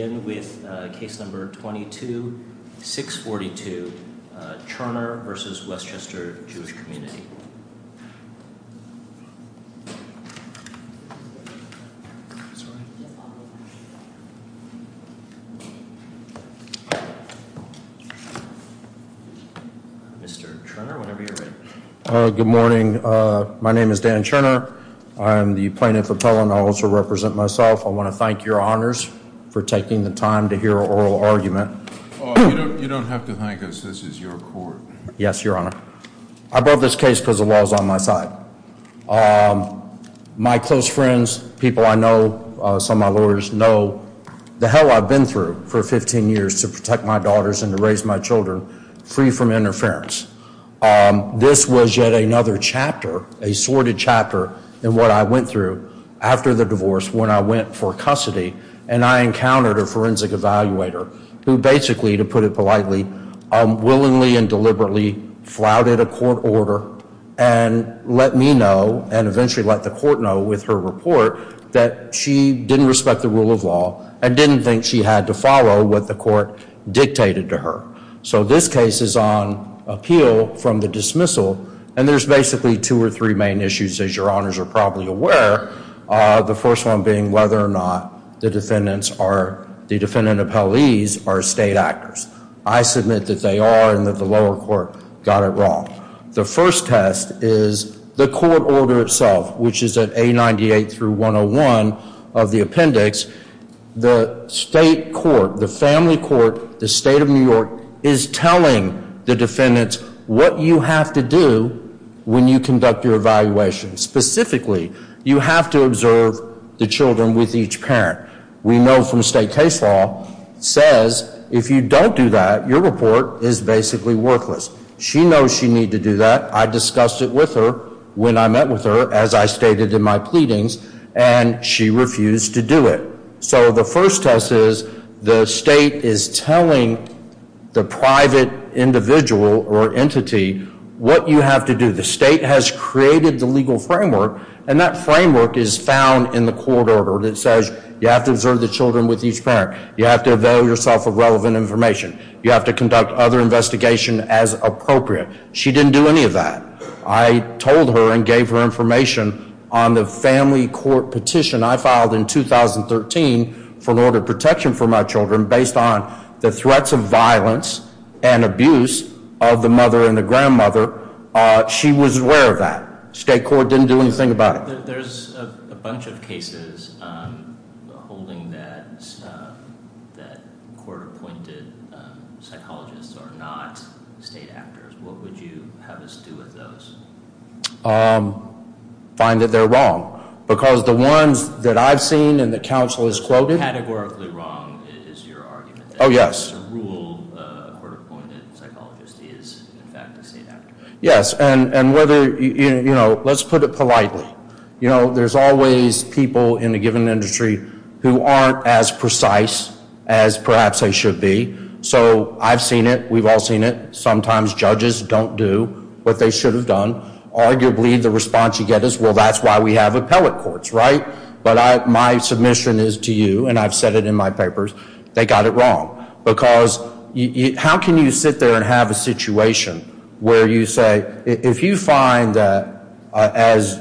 We'll begin with case number 22-642, Churner v. Westchester Jewish Community. Mr. Churner, whenever you're ready. Good morning. My name is Dan Churner. I am the plaintiff appellant. I also represent myself. I want to thank your honors for taking the time to hear an oral argument. You don't have to thank us. This is your court. Yes, your honor. I brought this case because the law is on my side. My close friends, people I know, some of my lawyers know the hell I've been through for 15 years to protect my daughters and to raise my children free from interference. This was yet another chapter, a sordid chapter in what I went through after the divorce when I went for custody and I encountered a forensic evaluator who basically, to put it politely, willingly and deliberately flouted a court order and let me know and eventually let the court know with her report that she didn't respect the rule of law and didn't think she had to follow what the court dictated to her. So this case is on appeal from the dismissal and there's basically two or three main issues, as your honors are probably aware. The first one being whether or not the defendants are the defendant appellees are state actors. I submit that they are and that the lower court got it wrong. The first test is the court order itself, which is at A98 through 101 of the appendix. The court is telling the defendants what you have to do when you conduct your evaluation. Specifically, you have to observe the children with each parent. We know from state case law, it says if you don't do that, your report is basically worthless. She knows she needs to do that. I discussed it with her when I met with her, as I stated in my pleadings, and she refused to do it. So the first test is the state is telling the private individual or entity what you have to do. The state has created the legal framework, and that framework is found in the court order. It says you have to observe the children with each parent. You have to avail yourself of relevant information. You have to conduct other investigation as appropriate. She didn't do any of that. I told her and gave her information on the family court petition I filed in 2013 for an order of protection for my children based on the threats of violence and abuse of the mother and the grandmother. She was aware of that. State court didn't do anything about it. There's a bunch of cases holding that court-appointed psychologists are not state actors. What would you have us do with those? Find that they're wrong. Because the ones that I've seen and the counsel has quoted Categorically wrong is your argument. Oh, yes. Rule court-appointed psychologist is in fact a state actor. Yes, and whether, you know, let's put it politely. You know, there's always people in a given industry who aren't as precise as perhaps they should be. So I've seen it. We've all seen it. Arguably the response you get is, well, that's why we have appellate courts, right? But my submission is to you, and I've said it in my papers, they got it wrong. Because how can you sit there and have a situation where you say, if you find that, as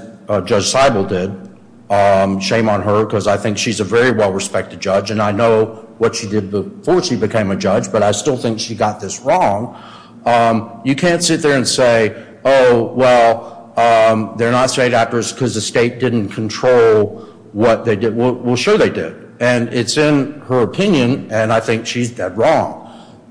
Judge Seibel did, shame on her, because I think she's a very well-respected judge, and I know what she did before she became a judge, but I still think she got this wrong. You can't sit there and say, oh, well, they're not state actors because the state didn't control what they did. Well, sure they did. And it's in her opinion, and I think she's dead wrong.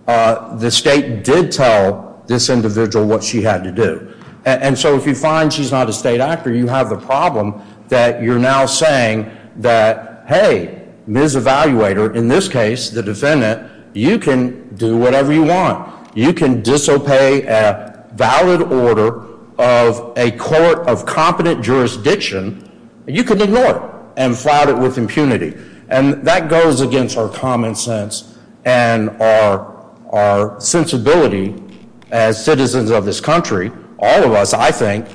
The state did tell this individual what she had to do. And so if you find she's not a state actor, you have the problem that you're now saying that, hey, Ms. Evaluator, in this case, the defendant, you can do whatever you want. You can disobey a valid order of a court of competent jurisdiction. You can ignore it and flout it with impunity. And that goes against our common sense and our sensibility as citizens of this country, all of us, I think,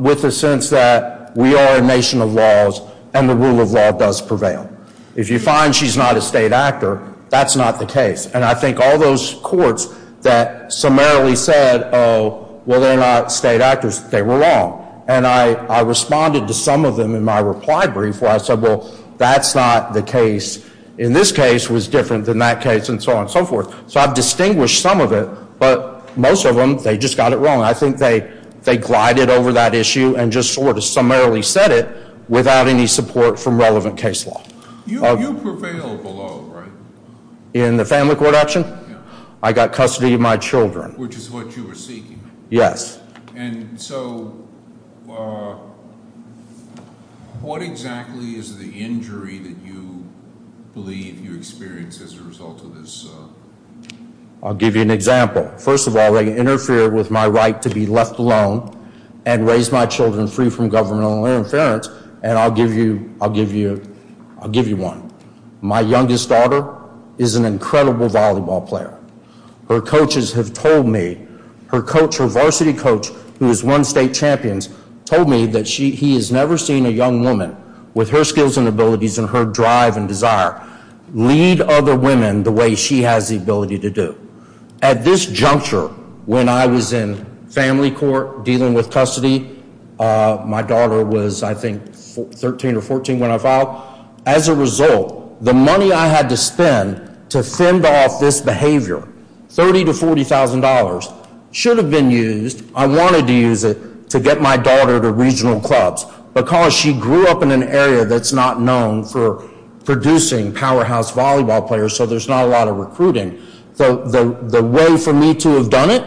with the sense that we are a nation of laws, and the rule of law does prevail. If you find she's not a state actor, that's not the case. And I think all those courts that summarily said, oh, well, they're not state actors, they were wrong. And I responded to some of them in my reply brief where I said, well, that's not the case. In this case was different than that case and so on and so forth. So I've distinguished some of it, but most of them, they just got it wrong. I think they glided over that issue and just sort of summarily said it without any support from relevant case law. You prevail below, right? In the family court action? I got custody of my children. Which is what you were seeking. Yes. And so what exactly is the injury that you believe you experienced as a result of this? I'll give you an example. First of all, they interfered with my right to be left alone and raise my children free from governmental interference. And I'll give you one. My youngest daughter is an incredible volleyball player. Her coaches have told me, her coach, her varsity coach, who is one state champions, told me that he has never seen a young woman with her skills and abilities and her drive and desire lead other women the way she has the ability to do. At this juncture, when I was in family court dealing with custody, my daughter was, I think, 13 or 14 when I filed. As a result, the money I had to spend to fend off this behavior, $30,000 to $40,000, should have been used. I wanted to use it to get my daughter to regional clubs because she grew up in an area that's not known for producing powerhouse volleyball players, so there's not a lot of recruiting. So the way for me to have done it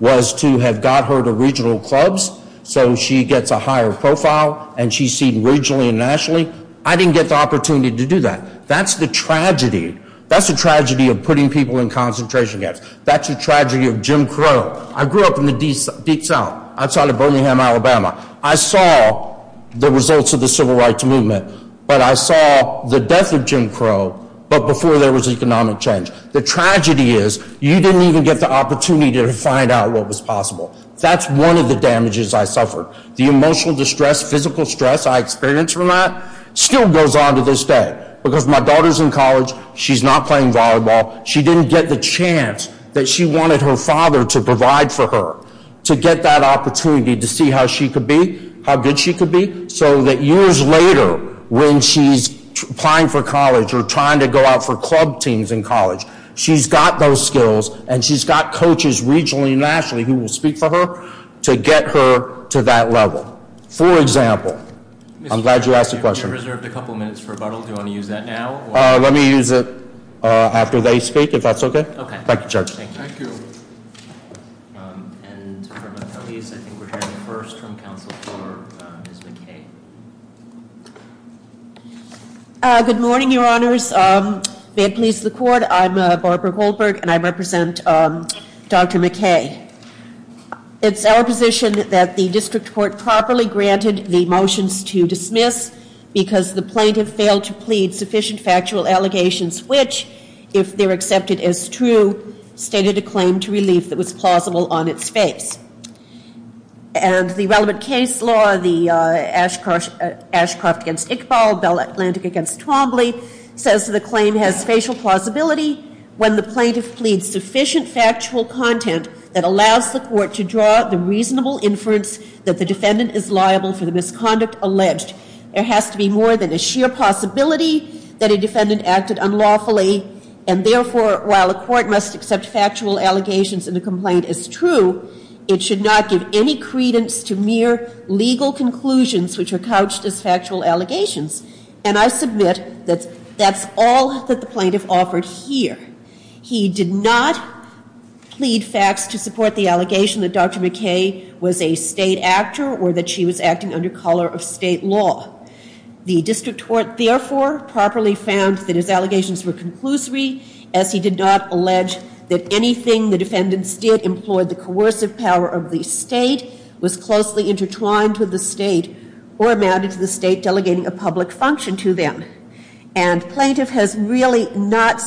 was to have got her to regional clubs so she gets a higher profile and she's seen regionally and nationally. I didn't get the opportunity to do that. That's the tragedy. That's the tragedy of putting people in concentration camps. That's the tragedy of Jim Crow. I grew up in the deep south, outside of Birmingham, Alabama. I saw the results of the civil rights movement, but I saw the death of Jim Crow, but before there was economic change. The tragedy is you didn't even get the opportunity to find out what was possible. That's one of the damages I suffered. The emotional distress, physical stress I experienced from that still goes on to this day because my daughter's in college. She's not playing volleyball. She didn't get the chance that she wanted her father to provide for her to get that opportunity to see how she could be, how good she could be, so that years later when she's applying for college or trying to go out for club teams in college, she's got those skills and she's got coaches regionally and nationally who will speak for her to get her to that level. For example, I'm glad you asked the question. We reserved a couple minutes for rebuttal. Do you want to use that now? Let me use it after they speak, if that's okay. Thank you, Judge. Thank you. Good morning, Your Honors. May it please the Court, I'm Barbara Goldberg and I represent Dr. McKay. It's our position that the district court properly granted the motions to dismiss because the plaintiff failed to plead sufficient factual allegations which, if they're accepted as true, stated a claim to relief that was plausible on its face. And the relevant case law, Ashcroft v. Iqbal, Bell Atlantic v. Twombly, says the claim has facial plausibility when the plaintiff pleads sufficient factual content that allows the court to draw the reasonable inference that the defendant is liable for the misconduct alleged. There has to be more than a sheer possibility that a defendant acted unlawfully and, therefore, while the court must accept factual allegations in the complaint as true, it should not give any credence to mere legal conclusions which are couched as factual allegations. And I submit that that's all that the plaintiff offered here. He did not plead facts to support the allegation that Dr. McKay was a state actor or that she was acting under color of state law. The district court, therefore, properly found that his allegations were conclusory as he did not allege that anything the defendants did employed the coercive power of the state, was closely intertwined with the state, or amounted to the state delegating a public function to them. And plaintiff has really not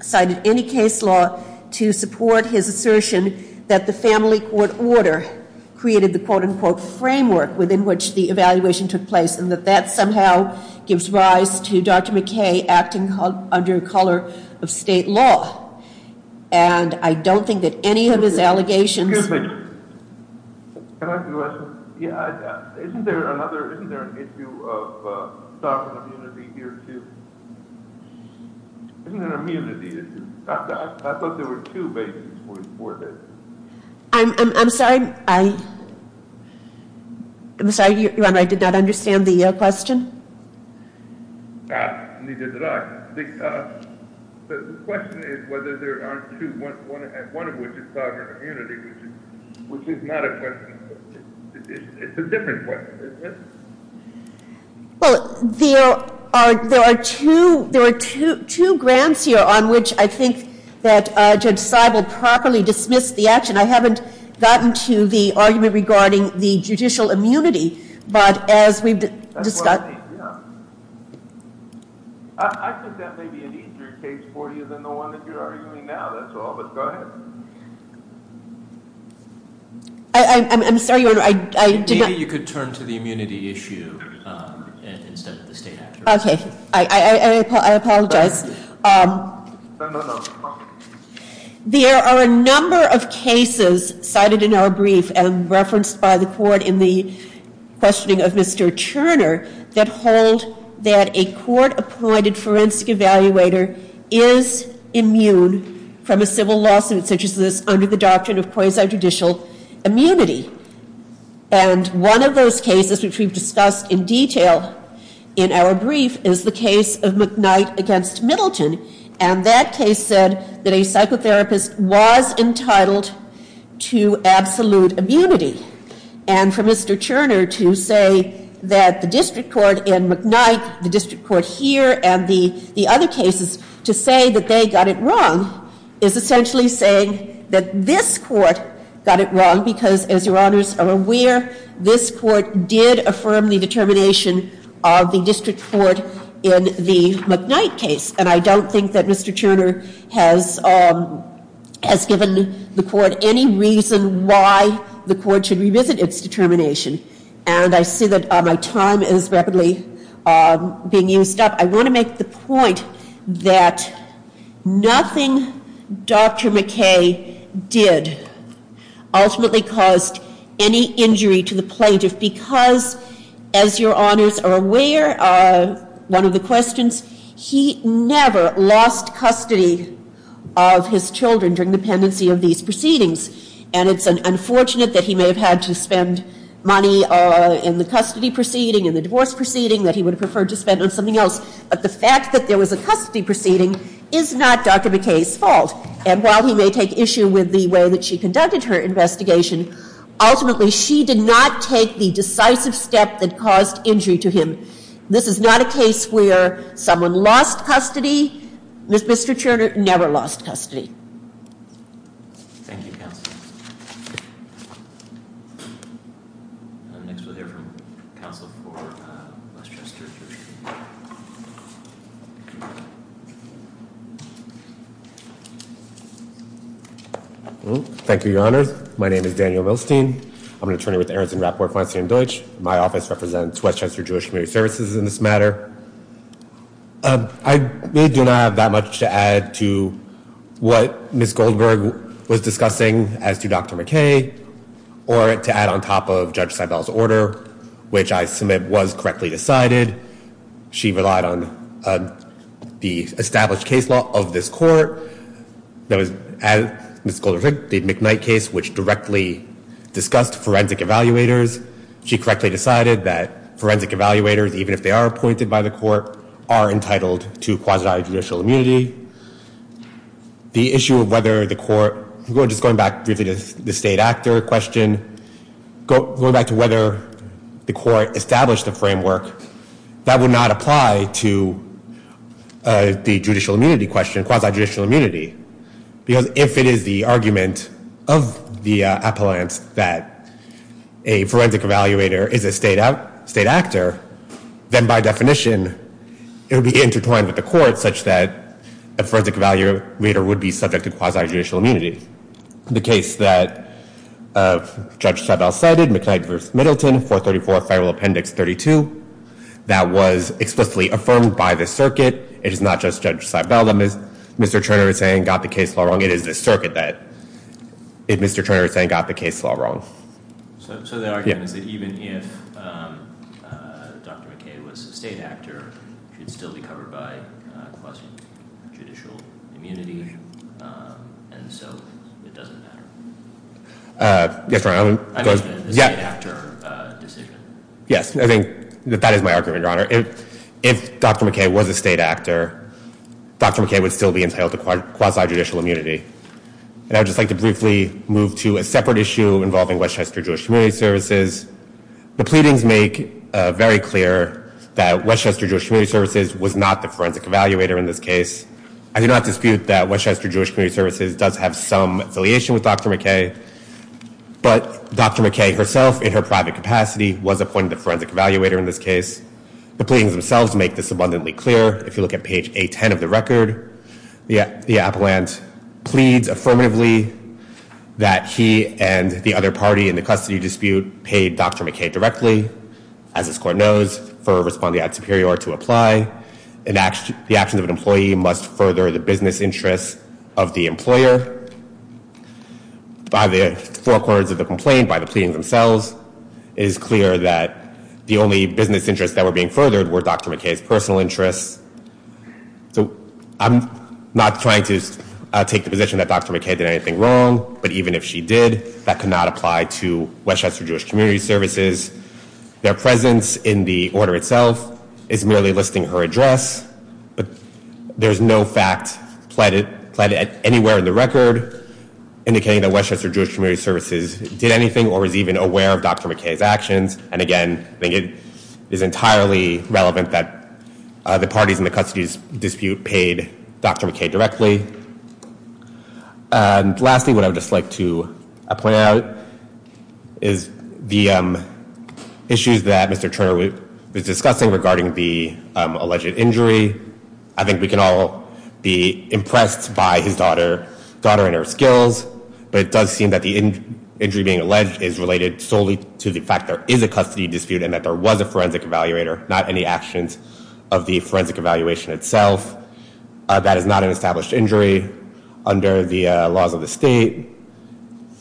cited any case law to support his assertion that the family court order created the quote-unquote framework within which the evaluation took place and that that somehow gives rise to Dr. McKay acting under color of state law. And I don't think that any of his allegations... Excuse me. Can I ask you a question? Yeah, isn't there another, isn't there an issue of sovereign immunity here, too? Isn't there an immunity issue? I thought there were two bases for this. I'm sorry. I'm sorry, Your Honor, I did not understand the question. Neither did I. The question is whether there aren't two, one of which is sovereign immunity, which is not a question. It's a different question. Well, there are two grants here on which I think that Judge Seibel properly dismissed the action. I haven't gotten to the argument regarding the judicial immunity, but as we've discussed... That's what I mean, yeah. I think that may be an easier case for you than the one that you're arguing now, that's all. But go ahead. I'm sorry, Your Honor, I did not... Maybe you could turn to the immunity issue instead of the state action. Okay. I apologize. There are a number of cases cited in our brief and referenced by the court in the questioning of Mr. Turner that hold that a court-appointed forensic evaluator is immune from a civil lawsuit such as this under the doctrine of quasi-judicial immunity. And one of those cases, which we've discussed in detail in our brief, is the case of McKnight v. Middleton. And that case said that a psychotherapist was entitled to absolute immunity. And for Mr. Turner to say that the district court in McKnight, the district court here, and the other cases, to say that they got it wrong is essentially saying that this court got it wrong because, as Your Honors are aware, this court did affirm the determination of the district court in the McKnight case. And I don't think that Mr. Turner has given the court any reason why the court should revisit its determination. And I see that my time is rapidly being used up. I want to make the point that nothing Dr. McKay did ultimately caused any injury to the plaintiff because, as Your Honors are aware, one of the questions, he never lost custody of his children during the pendency of these proceedings. And it's unfortunate that he may have had to spend money in the custody proceeding, in the divorce proceeding, that he would have preferred to spend on something else. But the fact that there was a custody proceeding is not Dr. McKay's fault. And while he may take issue with the way that she conducted her investigation, ultimately she did not take the decisive step that caused injury to him. This is not a case where someone lost custody. Thank you, Counsel. Next we'll hear from Counsel for West Chester. Thank you, Your Honors. My name is Daniel Milstein. I'm an attorney with Aaronson Rapport, Feinstein & Deutsch. My office represents West Chester Jewish Community Services in this matter. I really do not have that much to add to what Ms. Goldberg was discussing as to Dr. McKay or to add on top of Judge Seibel's order, which I submit was correctly decided. She relied on the established case law of this court. That was Ms. Goldberg's McKnight case, which directly discussed forensic evaluators. She correctly decided that forensic evaluators, even if they are appointed by the court, are entitled to quasi-judicial immunity. The issue of whether the court, just going back briefly to the state actor question, going back to whether the court established a framework, that would not apply to the judicial immunity question, quasi-judicial immunity. Because if it is the argument of the appellant that a forensic evaluator is a state actor, then by definition it would be intertwined with the court such that a forensic evaluator would be subject to quasi-judicial immunity. The case that Judge Seibel cited, McKnight v. Middleton, 434 Federal Appendix 32, that was explicitly affirmed by the circuit. It is not just Judge Seibel that Mr. Turner is saying got the case law wrong. It is the circuit that Mr. Turner is saying got the case law wrong. So the argument is that even if Dr. McKay was a state actor, she would still be covered by quasi-judicial immunity, and so it doesn't matter? Yes, Your Honor. I meant the state actor decision. Yes, I think that is my argument, Your Honor. If Dr. McKay was a state actor, Dr. McKay would still be entitled to quasi-judicial immunity. And I would just like to briefly move to a separate issue involving Westchester Jewish Community Services. The pleadings make very clear that Westchester Jewish Community Services was not the forensic evaluator in this case. I do not dispute that Westchester Jewish Community Services does have some affiliation with Dr. McKay, but Dr. McKay herself, in her private capacity, was appointed the forensic evaluator in this case. The pleadings themselves make this abundantly clear. If you look at page A-10 of the record, the appellant pleads affirmatively that he and the other party in the custody dispute paid Dr. McKay directly, as this Court knows, for Responding Act Superior to apply. The actions of an employee must further the business interests of the employer. By the forecourts of the complaint, by the pleadings themselves, it is clear that the only business interests that were being furthered were Dr. McKay's personal interests. So I'm not trying to take the position that Dr. McKay did anything wrong, but even if she did, that could not apply to Westchester Jewish Community Services. Their presence in the order itself is merely listing her address. There is no fact pleaded anywhere in the record indicating that Westchester Jewish Community Services did anything or was even aware of Dr. McKay's actions. And again, I think it is entirely relevant that the parties in the custody dispute paid Dr. McKay directly. And lastly, what I would just like to point out is the issues that Mr. Turner was discussing regarding the alleged injury. I think we can all be impressed by his daughter and her skills, but it does seem that the injury being alleged is related solely to the fact there is a custody dispute and that there was a forensic evaluator, not any actions of the forensic evaluation itself. That is not an established injury under the laws of the state.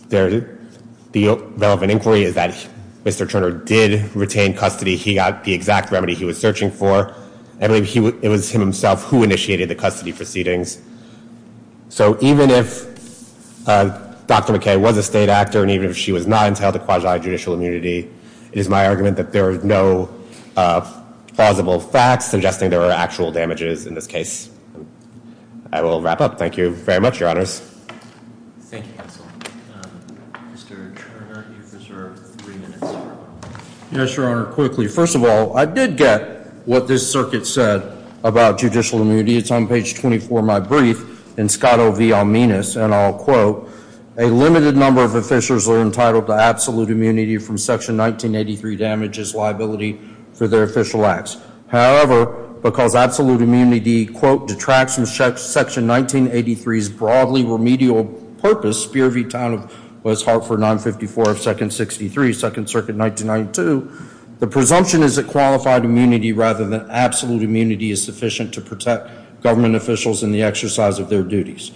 The relevant inquiry is that Mr. Turner did retain custody. He got the exact remedy he was searching for. It was him himself who initiated the custody proceedings. So even if Dr. McKay was a state actor and even if she was not entitled to quasi-judicial immunity, it is my argument that there are no plausible facts suggesting there are actual damages in this case. I will wrap up. Thank you very much, Your Honors. Thank you, counsel. Mr. Turner, you have three minutes. Yes, Your Honor. Quickly, first of all, I did get what this circuit said about judicial immunity. It's on page 24 of my brief in Scotto v. Almenus, and I'll quote, a limited number of officials are entitled to absolute immunity from Section 1983 damages liability for their official acts. However, because absolute immunity, quote, detracts from Section 1983's broadly remedial purpose, Spear v. Town of West Hartford 954 of Second 63, Second Circuit 1992, the presumption is that qualified immunity rather than absolute immunity is sufficient to protect government officials in the exercise of their duties.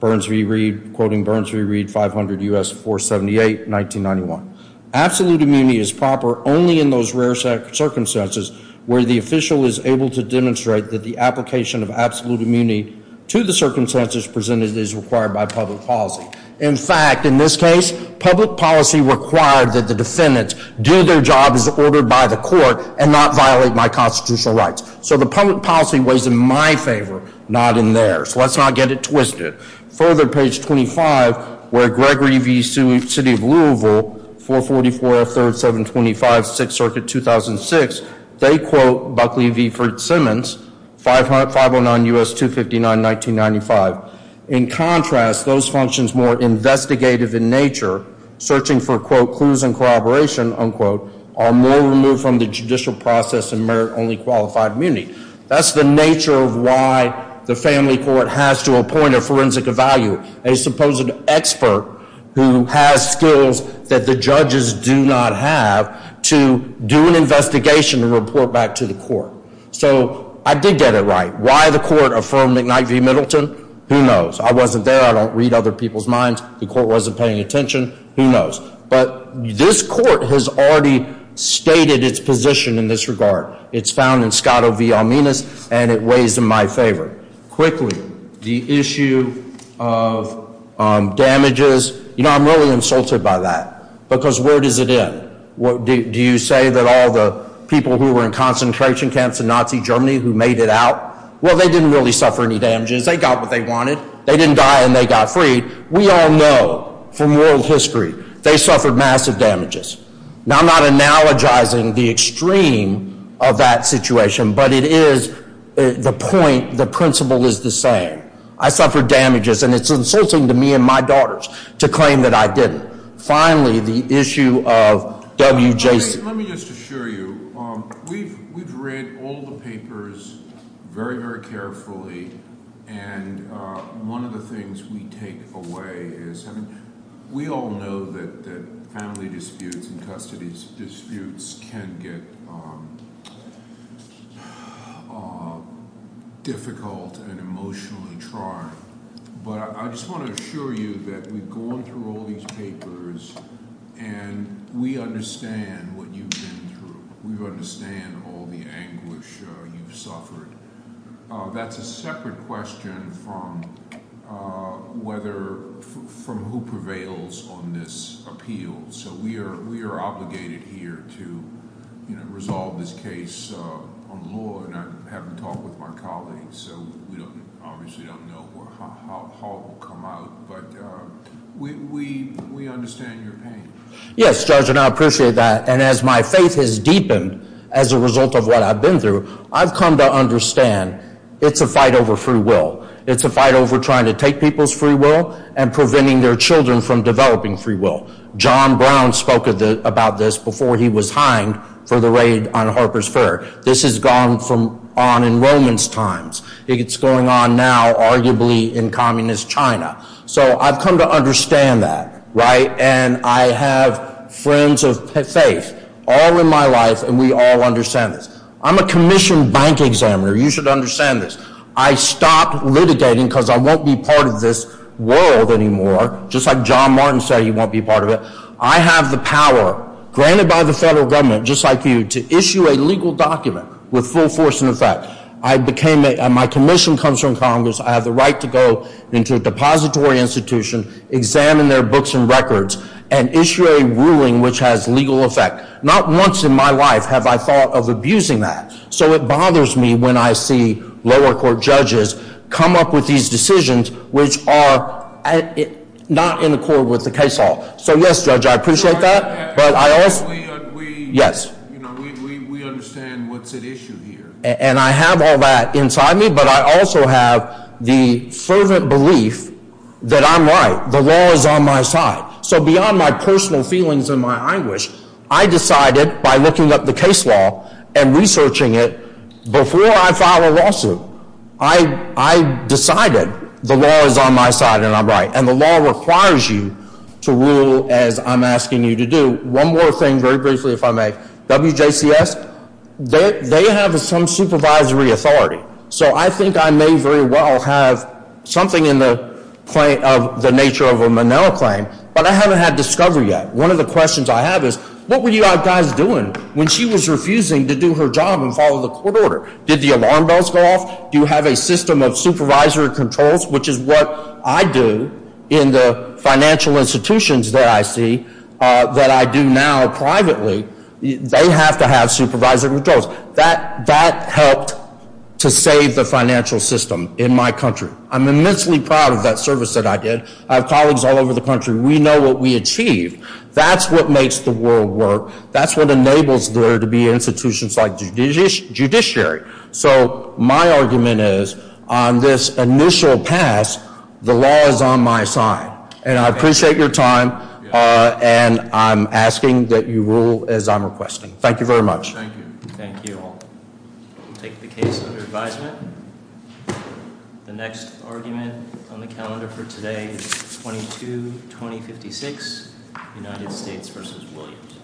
Burns v. Reed, quoting Burns v. Reed, 500 U.S. 478, 1991. Absolute immunity is proper only in those rare circumstances where the official is able to demonstrate that the application of absolute immunity to the circumstances presented is required by public policy. In fact, in this case, public policy required that the defendants do their job as ordered by the court and not violate my constitutional rights. So the public policy weighs in my favor, not in theirs. Let's not get it twisted. Further, page 25, where Gregory v. City of Louisville, 444 of Third 725, Sixth Circuit 2006, they quote Buckley v. Fritz-Simmons, 509 U.S. 259, 1995. In contrast, those functions more investigative in nature, searching for, quote, clues and corroboration, unquote, are more removed from the judicial process and merit only qualified immunity. That's the nature of why the family court has to appoint a forensic evaluator, a supposed expert who has skills that the judges do not have to do an investigation and report back to the court. So I did get it right. Why the court affirmed McKnight v. Middleton, who knows? I wasn't there. I don't read other people's minds. The court wasn't paying attention. Who knows? But this court has already stated its position in this regard. It's found in Scott v. Alminas, and it weighs in my favor. Quickly, the issue of damages, you know, I'm really insulted by that because where does it end? Do you say that all the people who were in concentration camps in Nazi Germany who made it out, well, they didn't really suffer any damages. They got what they wanted. They didn't die, and they got freed. We all know from world history they suffered massive damages. Now, I'm not analogizing the extreme of that situation, but it is the point, the principle is the same. I suffered damages, and it's insulting to me and my daughters to claim that I didn't. Finally, the issue of WJC. Let me just assure you we've read all the papers very, very carefully, and one of the things we take away is we all know that family disputes and custody disputes can get difficult and emotionally trying. But I just want to assure you that we've gone through all these papers, and we understand what you've been through. We understand all the anguish you've suffered. That's a separate question from whether – from who prevails on this appeal. So we are obligated here to resolve this case on the law, and I haven't talked with my colleagues, so we obviously don't know how it will come out, but we understand your pain. Yes, Judge, and I appreciate that, and as my faith has deepened as a result of what I've been through, I've come to understand it's a fight over free will. It's a fight over trying to take people's free will and preventing their children from developing free will. John Brown spoke about this before he was hanged for the raid on Harper's Fair. This has gone on in Roman's times. It's going on now, arguably, in communist China. So I've come to understand that, right, and I have friends of faith all in my life, and we all understand this. I'm a commissioned bank examiner. You should understand this. I stopped litigating because I won't be part of this world anymore, just like John Martin said he won't be part of it. I have the power, granted by the federal government, just like you, to issue a legal document with full force and effect. My commission comes from Congress. I have the right to go into a depository institution, examine their books and records, and issue a ruling which has legal effect. Not once in my life have I thought of abusing that. So it bothers me when I see lower court judges come up with these decisions which are not in accord with the case law. So, yes, Judge, I appreciate that, but I also— We understand what's at issue here. And I have all that inside me, but I also have the fervent belief that I'm right. The law is on my side. So beyond my personal feelings and my anguish, I decided, by looking up the case law and researching it, before I filed a lawsuit, I decided the law is on my side and I'm right. And the law requires you to rule as I'm asking you to do. One more thing, very briefly, if I may. WJCS, they have some supervisory authority. So I think I may very well have something in the nature of a Monell claim, but I haven't had discovery yet. One of the questions I have is, what were you guys doing when she was refusing to do her job and follow the court order? Did the alarm bells go off? Do you have a system of supervisory controls, which is what I do in the financial institutions that I see, that I do now privately. They have to have supervisory controls. That helped to save the financial system in my country. I'm immensely proud of that service that I did. I have colleagues all over the country. We know what we achieved. That's what makes the world work. That's what enables there to be institutions like judiciary. So my argument is, on this initial pass, the law is on my side. And I appreciate your time, and I'm asking that you rule as I'm requesting. Thank you very much. Thank you. Thank you all. We'll take the case under advisement. The next argument on the calendar for today is 22-2056, United States v. Williams.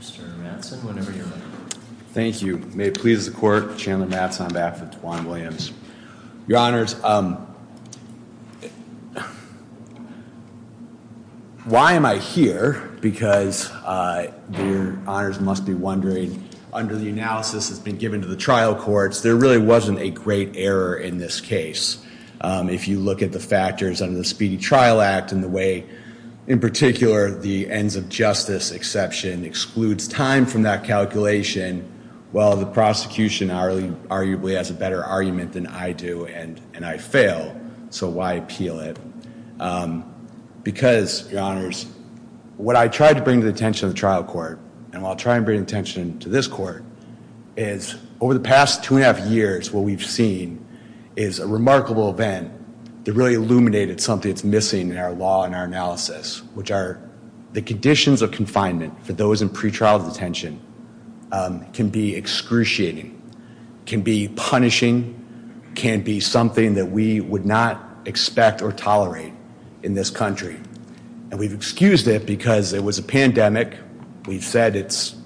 Mr. Matheson, whenever you're ready. Thank you. May it please the court, Chandler Matheson on behalf of Tawan Williams. Your honors, why am I here? Because your honors must be wondering, under the analysis that's been given to the trial courts, there really wasn't a great error in this case. If you look at the factors under the Speedy Trial Act and the way, in particular, the ends of justice exception excludes time from that calculation, well, the prosecution arguably has a better argument than I do, and I fail. So why appeal it? Because, your honors, what I tried to bring to the attention of the trial court, and what I'll try to bring to the attention of this court, is over the past two and a half years, what we've seen is a remarkable event that really illuminated something that's missing in our law and our analysis, which are the conditions of confinement for those in pretrial detention can be excruciating, can be punishing, can be something that we would not expect or tolerate in this country. And we've excused it because it was a pandemic. We've said it's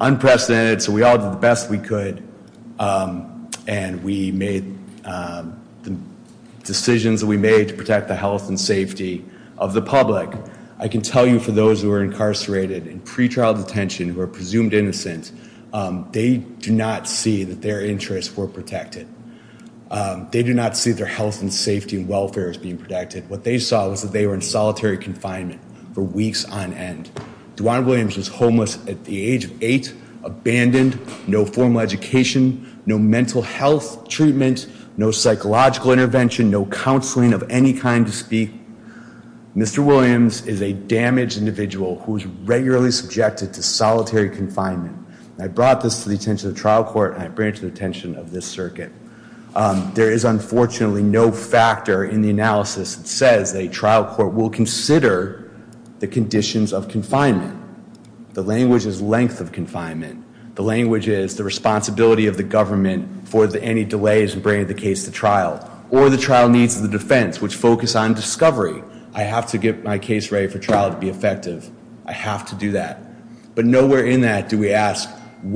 unprecedented, so we all did the best we could, and we made the decisions that we made to protect the health and safety of the public. I can tell you for those who are incarcerated in pretrial detention who are presumed innocent, they do not see that their interests were protected. They do not see their health and safety and welfare as being protected. What they saw was that they were in solitary confinement for weeks on end. Duann Williams was homeless at the age of eight, abandoned, no formal education, no mental health treatment, no psychological intervention, no counseling of any kind to speak. Mr. Williams is a damaged individual who is regularly subjected to solitary confinement. I brought this to the attention of the trial court, and I bring it to the attention of this circuit. There is unfortunately no factor in the analysis that says a trial court will consider the conditions of confinement. The language is length of confinement. The language is the responsibility of the government for any delays in bringing the case to trial or the trial needs of the defense, which focus on discovery. I have to get my case ready for trial to be effective. I have to do that. But nowhere in that do we ask